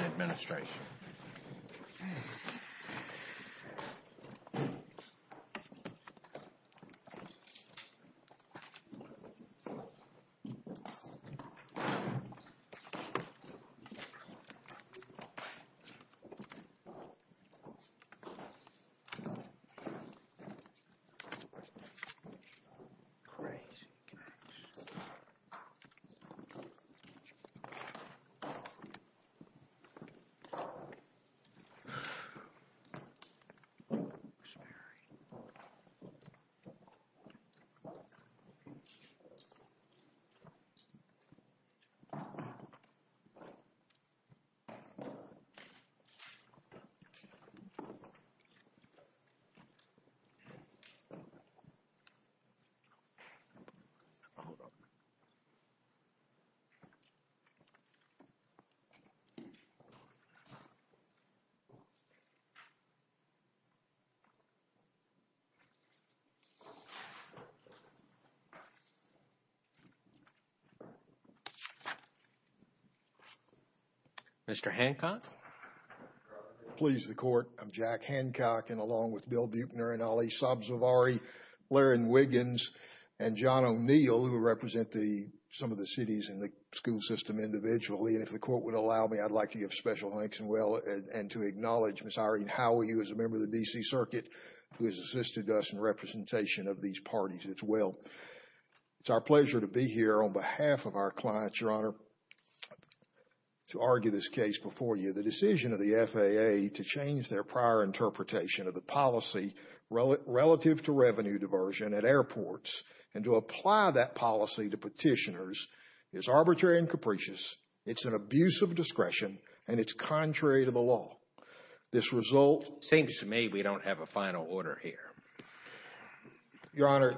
Administration Mr. Hancock? Please the court, I'm Jack Hancock and along with Bill Buechner and Ali Sabzavari, Larry Wiggins and John O'Neill who represent some of the cities in the school system individually and if the court would allow me, I'd like to give special thanks and well and to acknowledge Miss Irene Howey who is a member of the D.C. Circuit who has assisted us in representation of these parties as well. It's our pleasure to be here on behalf of our clients, Your Honor, to argue this case before you. The decision of the FAA to change their prior interpretation of the policy relative to revenue diversion at airports and to apply that policy to petitioners is arbitrary and capricious. It's an abuse of discretion and it's contrary to the law. This result... Seems to me we don't have a final order here. Your Honor,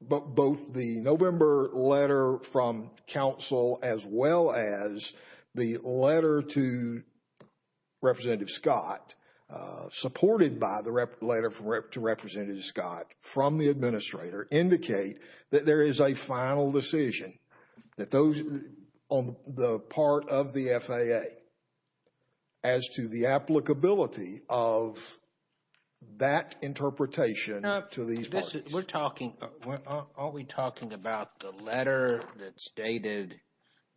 both the November letter from counsel as well as the letter to Representative Scott supported by the letter to Representative Scott from the administrator indicate that there is a final decision on the part of the FAA as to the applicability of that interpretation to these parties. We're talking... Aren't we talking about the letter that stated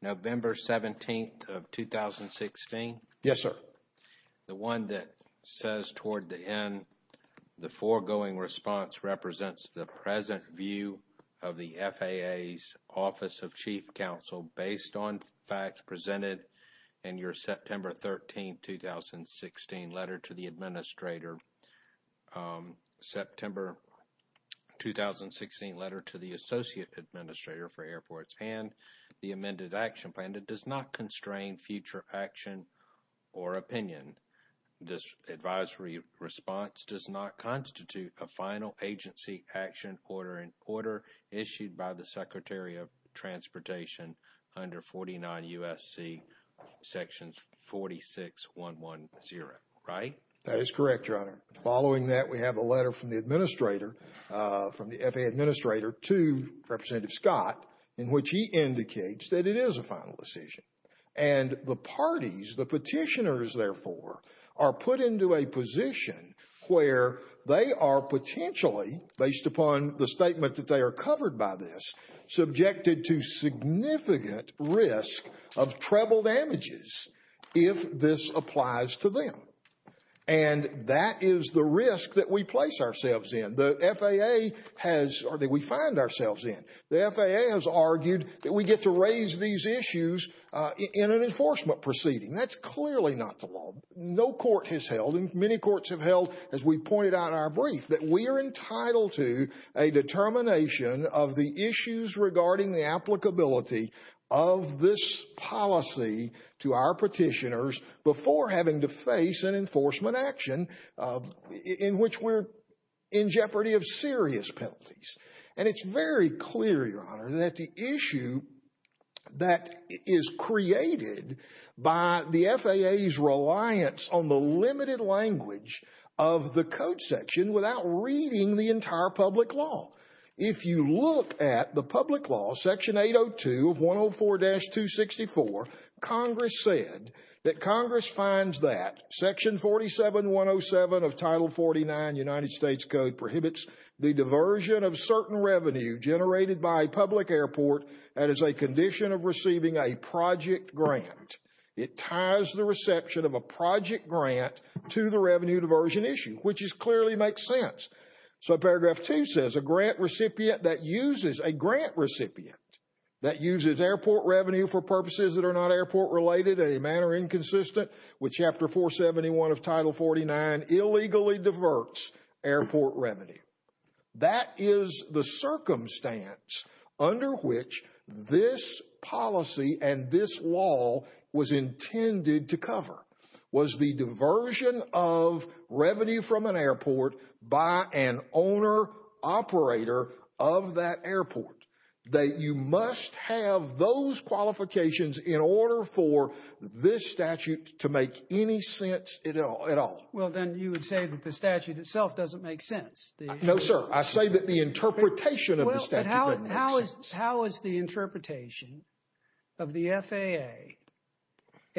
November 17th of 2016? Yes, sir. The one that says toward the end, the foregoing response represents the present view of the FAA's Office of Chief Counsel based on facts presented in your September 13th, 2016 letter to the administrator. In your opinion, this advisory response does not constitute a final agency action order issued by the Secretary of Transportation under 49 U.S.C. sections 46.1.1.0, right? That is correct, Your Honor. Following that, we have a letter from the administrator, from the FAA administrator to Representative Scott in which he indicates that it is a final decision. And the parties, the petitioners, therefore, are put into a position where they are potentially, based upon the statement that they are covered by this, subjected to significant risk of treble damages if this applies to them. And that is the risk that we place ourselves in. The FAA has... or that we find ourselves in. The FAA has argued that we get to raise these issues in an enforcement proceeding. That's clearly not the law. in which we're in jeopardy of serious penalties. And it's very clear, Your Honor, that the issue that is created by the FAA's reliance on the limited language of the code section without reading the entire public law. If you look at the public law, section 802 of 104-264, Congress said that Congress finds that section 47.107 of Title 49 United States Code prohibits the diversion of certain revenue generated by a public airport that is a condition of receiving a project grant. It ties the reception of a project grant to the revenue diversion issue, which clearly makes sense. So paragraph two says a grant recipient that uses... a grant recipient that uses airport revenue for purposes that are not airport related in a manner inconsistent with chapter 471 of Title 49 illegally diverts airport revenue. That is the circumstance under which this policy and this law was intended to cover. Was the diversion of revenue from an airport by an owner-operator of that airport. That you must have those qualifications in order for this statute to make any sense at all. Well, then you would say that the statute itself doesn't make sense. No, sir. I say that the interpretation of the statute doesn't make sense. How is the interpretation of the FAA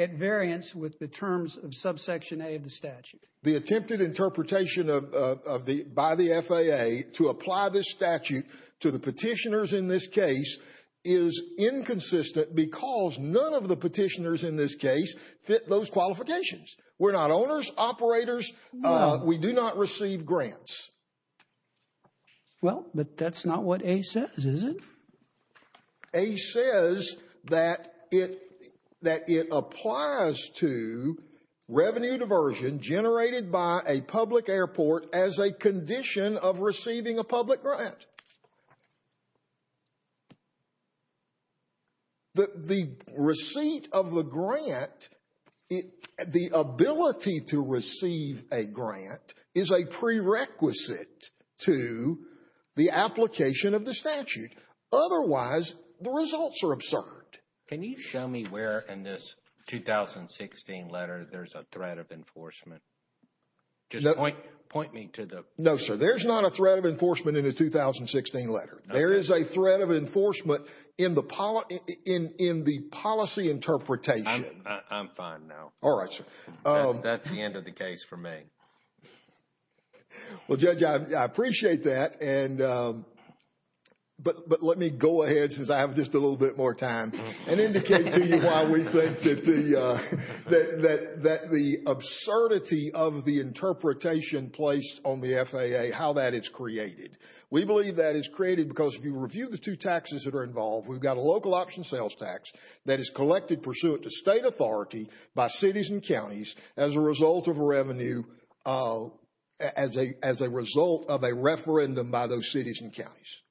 at variance with the terms of subsection A of the statute? The attempted interpretation by the FAA to apply this statute to the petitioners in this case is inconsistent because none of the petitioners in this case fit those qualifications. We're not owners, operators. We do not receive grants. Well, but that's not what A says, is it? A says that it applies to revenue diversion generated by a public airport as a condition of receiving a public grant. The receipt of the grant, the ability to receive a grant, is a prerequisite to the application of the statute. Otherwise, the results are absurd. Can you show me where in this 2016 letter there's a threat of enforcement? Just point me to the... No, sir. There's not a threat of enforcement in the 2016 letter. There is a threat of enforcement in the policy interpretation. I'm fine now. All right, sir. That's the end of the case for me. Well, Judge, I appreciate that, but let me go ahead since I have just a little bit more time and indicate to you why we think that the absurdity of the interpretation placed on the FAA, how that is created. We believe that is created because if you review the two taxes that are involved, we've got a local option sales tax that is collected pursuant to state authority by cities and counties as a result of a revenue, as a result of a referendum by those cities and counties.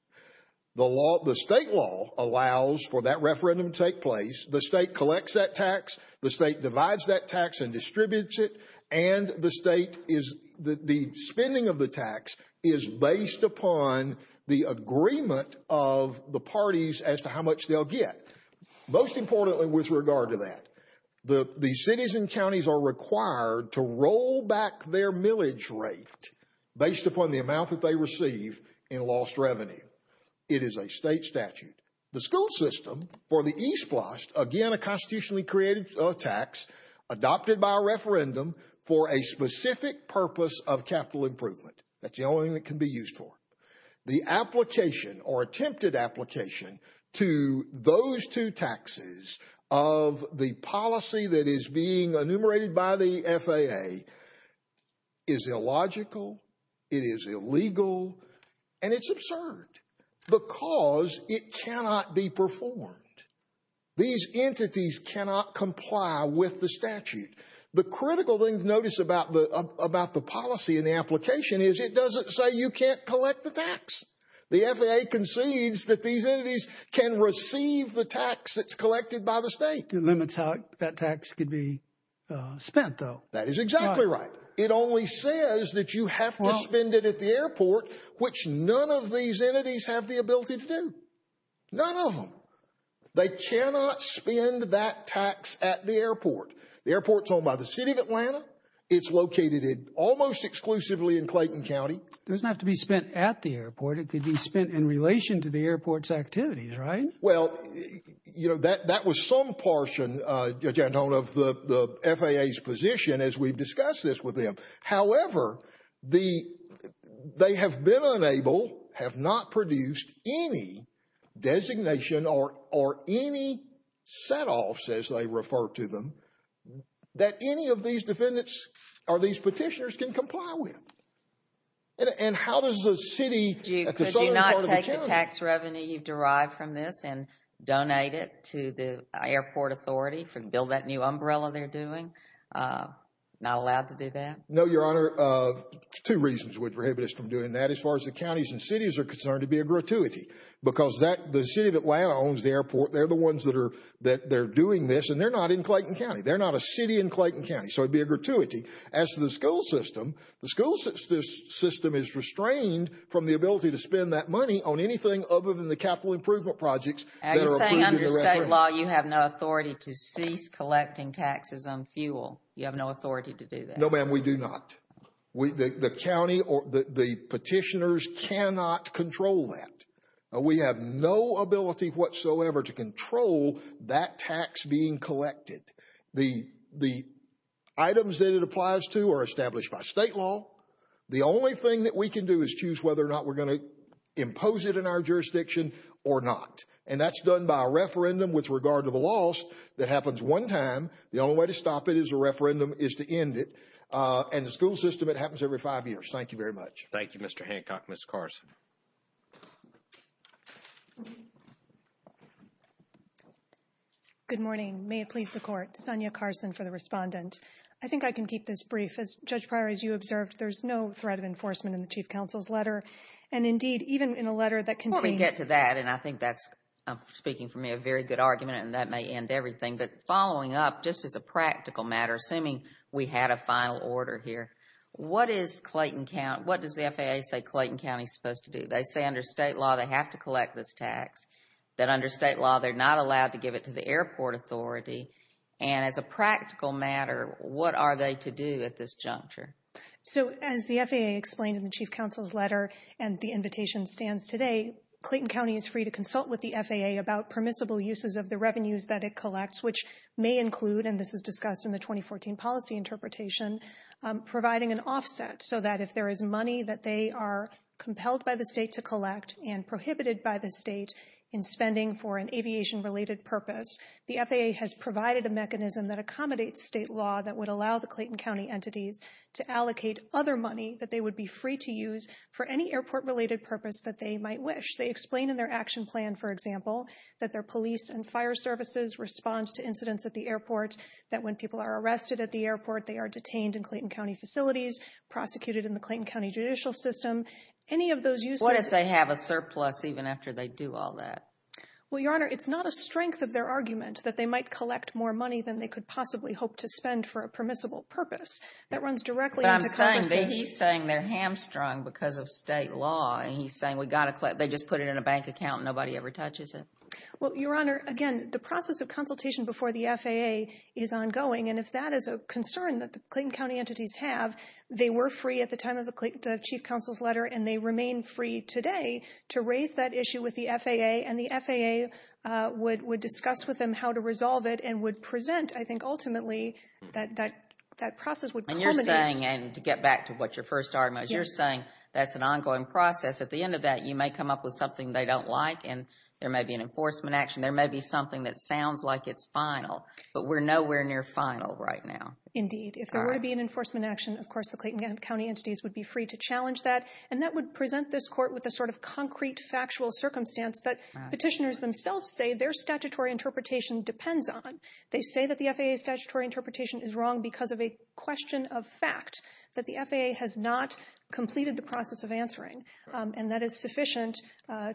The state law allows for that referendum to take place. The state collects that tax. The state divides that tax and distributes it, and the state is... the spending of the tax is based upon the agreement of the parties as to how much they'll get. Most importantly with regard to that, the cities and counties are required to roll back their millage rate based upon the amount that they receive in lost revenue. It is a state statute. The school system for the East Blast, again, a constitutionally created tax adopted by a referendum for a specific purpose of capital improvement. That's the only thing that can be used for. The application or attempted application to those two taxes of the policy that is being enumerated by the FAA is illogical, it is illegal, and it's absurd because it cannot be performed. These entities cannot comply with the statute. The critical thing to notice about the policy and the application is it doesn't say you can't collect the tax. The FAA concedes that these entities can receive the tax that's collected by the state. It limits how that tax could be spent, though. That is exactly right. It only says that you have to spend it at the airport, which none of these entities have the ability to do. None of them. They cannot spend that tax at the airport. The airport's owned by the city of Atlanta. It's located almost exclusively in Clayton County. It doesn't have to be spent at the airport. It could be spent in relation to the airport's activities, right? Well, you know, that was some portion, Judge Anton, of the FAA's position as we've discussed this with them. However, they have been unable, have not produced any designation or any set-offs, as they refer to them, that any of these defendants or these petitioners can comply with. And how does a city, a consultant, call to account? Could you not take the tax revenue you've derived from this and donate it to the airport authority to build that new umbrella they're doing? Not allowed to do that? No, Your Honor. Two reasons would prohibit us from doing that. As far as the counties and cities are concerned, it would be a gratuity. Because the city of Atlanta owns the airport. They're the ones that are doing this, and they're not in Clayton County. They're not a city in Clayton County, so it would be a gratuity. As for the school system, the school system is restrained from the ability to spend that money on anything other than the capital improvement projects. Are you saying under state law you have no authority to cease collecting taxes on fuel? You have no authority to do that? No, ma'am, we do not. The county or the petitioners cannot control that. We have no ability whatsoever to control that tax being collected. The items that it applies to are established by state law. The only thing that we can do is choose whether or not we're going to impose it in our jurisdiction or not. And that's done by a referendum with regard to the loss that happens one time. The only way to stop it is a referendum is to end it. And the school system, it happens every five years. Thank you very much. Thank you, Mr. Hancock. Ms. Carson. Good morning. May it please the Court. Sonya Carson for the respondent. I think I can keep this brief. As Judge Pryor, as you observed, there's no threat of enforcement in the Chief Counsel's letter. And indeed, even in a letter that contained... Before we get to that, and I think that's, speaking for me, a very good argument, and that may end everything, but following up, just as a practical matter, assuming we had a final order here, what does the FAA say Clayton County is supposed to do? They say under state law they have to collect this tax, that under state law they're not allowed to give it to the airport authority. And as a practical matter, what are they to do at this juncture? So, as the FAA explained in the Chief Counsel's letter and the invitation stands today, Clayton County is free to consult with the FAA about permissible uses of the revenues that it collects, which may include, and this is discussed in the 2014 policy interpretation, providing an offset so that if there is money that they are compelled by the state to collect and prohibited by the state in spending for an aviation-related purpose, the FAA has provided a mechanism that accommodates state law that would allow the Clayton County entities to allocate other money that they would be free to use for any airport-related purpose that they might wish. They explain in their action plan, for example, that their police and fire services respond to incidents at the airport, that when people are arrested at the airport they are detained in Clayton County facilities, prosecuted in the Clayton County judicial system, any of those uses... What if they have a surplus even after they do all that? Well, Your Honor, it's not a strength of their argument that they might collect more money than they could possibly hope to spend for a permissible purpose. That runs directly into... But I'm saying that he's saying they're hamstrung because of state law, and he's saying they just put it in a bank account and nobody ever touches it. Well, Your Honor, again, the process of consultation before the FAA is ongoing, and if that is a concern that the Clayton County entities have, they were free at the time of the Chief Counsel's letter, and they remain free today to raise that issue with the FAA, and the FAA would discuss with them how to resolve it and would present, I think, ultimately that process would culminate... And you're saying, and to get back to what your first argument was, you're saying that's an ongoing process. At the end of that, you may come up with something they don't like, and there may be an enforcement action. There may be something that sounds like it's final, but we're nowhere near final right now. Indeed. If there were to be an enforcement action, of course, the Clayton County entities would be free to challenge that. And that would present this court with a sort of concrete, factual circumstance that petitioners themselves say their statutory interpretation depends on. They say that the FAA's statutory interpretation is wrong because of a question of fact that the FAA has not completed the process of answering, and that is sufficient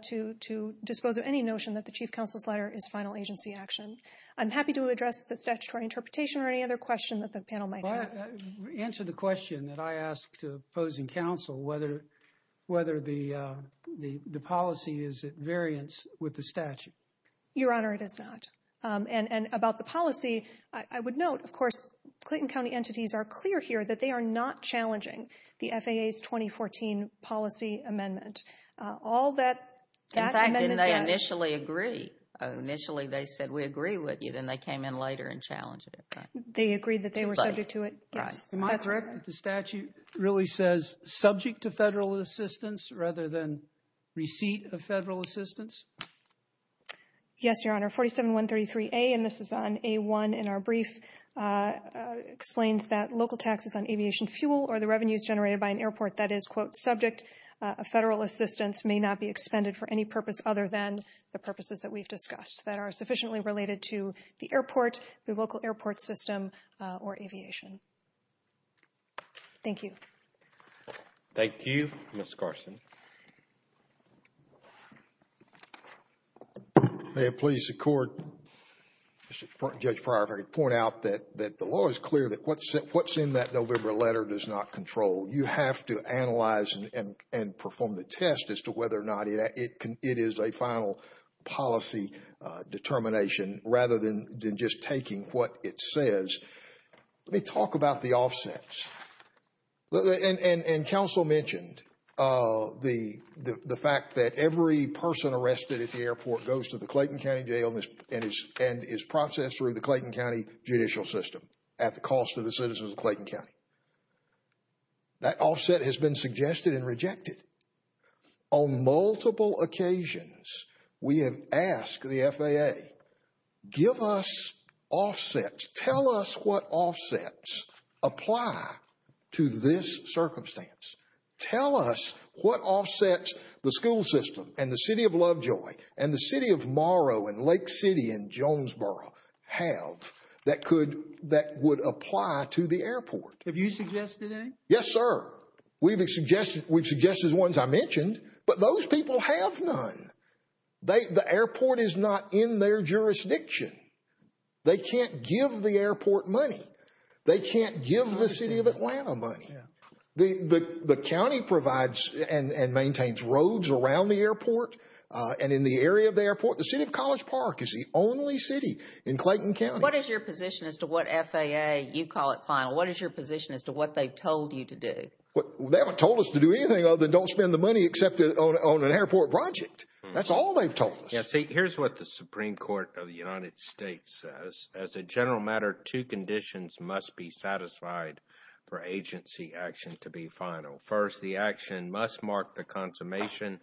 to dispose of any notion that the Chief Counsel's letter is final agency action. I'm happy to address the statutory interpretation or any other question that the panel might have. Answer the question that I asked opposing counsel, whether the policy is at variance with the statute. Your Honor, it is not. And about the policy, I would note, of course, Clayton County entities are clear here that they are not challenging the FAA's 2014 policy amendment. In fact, didn't they initially agree? Initially they said, we agree with you. Then they came in later and challenged it. They agreed that they were subject to it. Am I correct that the statute really says subject to federal assistance rather than receipt of federal assistance? Yes, Your Honor. 47133A, and this is on A1 in our brief, explains that local taxes on aviation fuel or the revenues generated by an airport that is, quote, subject, federal assistance may not be expended for any purpose other than the purposes that we've discussed that are sufficiently related to the airport, the local airport system, or aviation. Thank you. Thank you. Mr. Carson. May it please the Court, Judge Pryor, if I could point out that the law is clear that what's in that November letter does not control. You have to analyze and perform the test as to whether or not it is a final policy determination rather than just taking what it says. Let me talk about the offsets. And counsel mentioned the fact that every person arrested at the airport goes to the Clayton County jail and is processed through the Clayton County judicial system at the cost of the citizens of Clayton County. That offset has been suggested and rejected. On multiple occasions, we have asked the FAA, give us offsets. Tell us what offsets apply to this circumstance. Tell us what offsets the school system and the city of Lovejoy and the city of Morrow and Lake City and Jonesboro have that would apply to the airport. Have you suggested any? Yes, sir. We've suggested ones I mentioned, but those people have none. The airport is not in their jurisdiction. They can't give the airport money. They can't give the city of Atlanta money. The county provides and maintains roads around the airport and in the area of the airport. The city of College Park is the only city in Clayton County. What is your position as to what FAA, you call it final, what is your position as to what they've told you to do? They haven't told us to do anything other than don't spend the money on an airport project. That's all they've told us. Here's what the Supreme Court of the United States says. As a general matter, two conditions must be satisfied for agency action to be final. First, the action must mark the consummation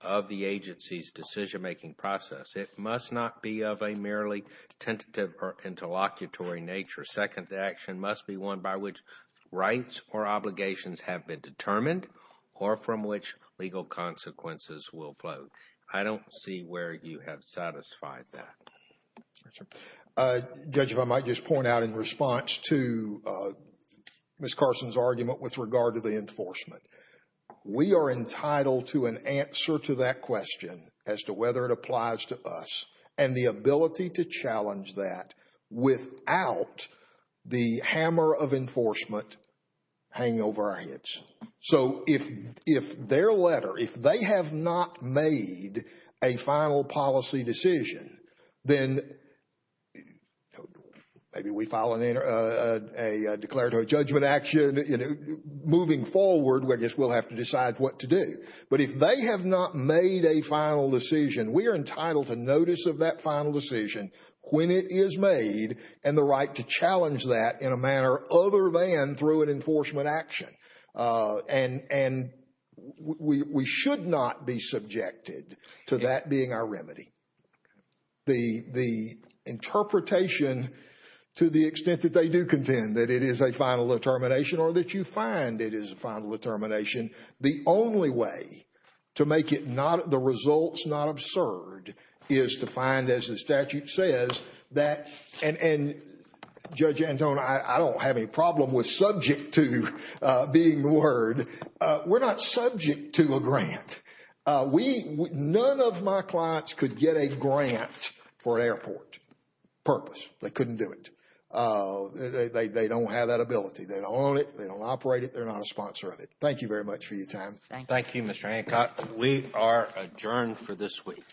of the agency's decision-making process. It must not be of a merely tentative or interlocutory nature. Second, the action must be one by which rights or obligations have been determined or from which legal consequences will float. I don't see where you have satisfied that. Judge, if I might just point out in response to Ms. Carson's argument with regard to the enforcement, we are entitled to an answer to that question as to whether it applies to us and the ability to challenge that without the hammer of enforcement hanging over our heads. So if their letter, if they have not made a final policy decision, then maybe we file a declaratory judgment action. Moving forward, I guess we'll have to decide what to do. But if they have not made a final decision, we are entitled to notice of that final decision when it is made and the right to challenge that in a manner other than through an enforcement action. And we should not be subjected to that being our remedy. The interpretation to the extent that they do contend that it is a final determination or that you find it is a final determination, the only way to make the results not absurd is to find, as the statute says, and Judge Antone, I don't have any problem with subject to being the word. We're not subject to a grant. None of my clients could get a grant for an airport purpose. They couldn't do it. They don't have that ability. They don't own it. They don't operate it. They're not a sponsor of it. Thank you very much for your time. Thank you, Mr. Hancock. We are adjourned for this week.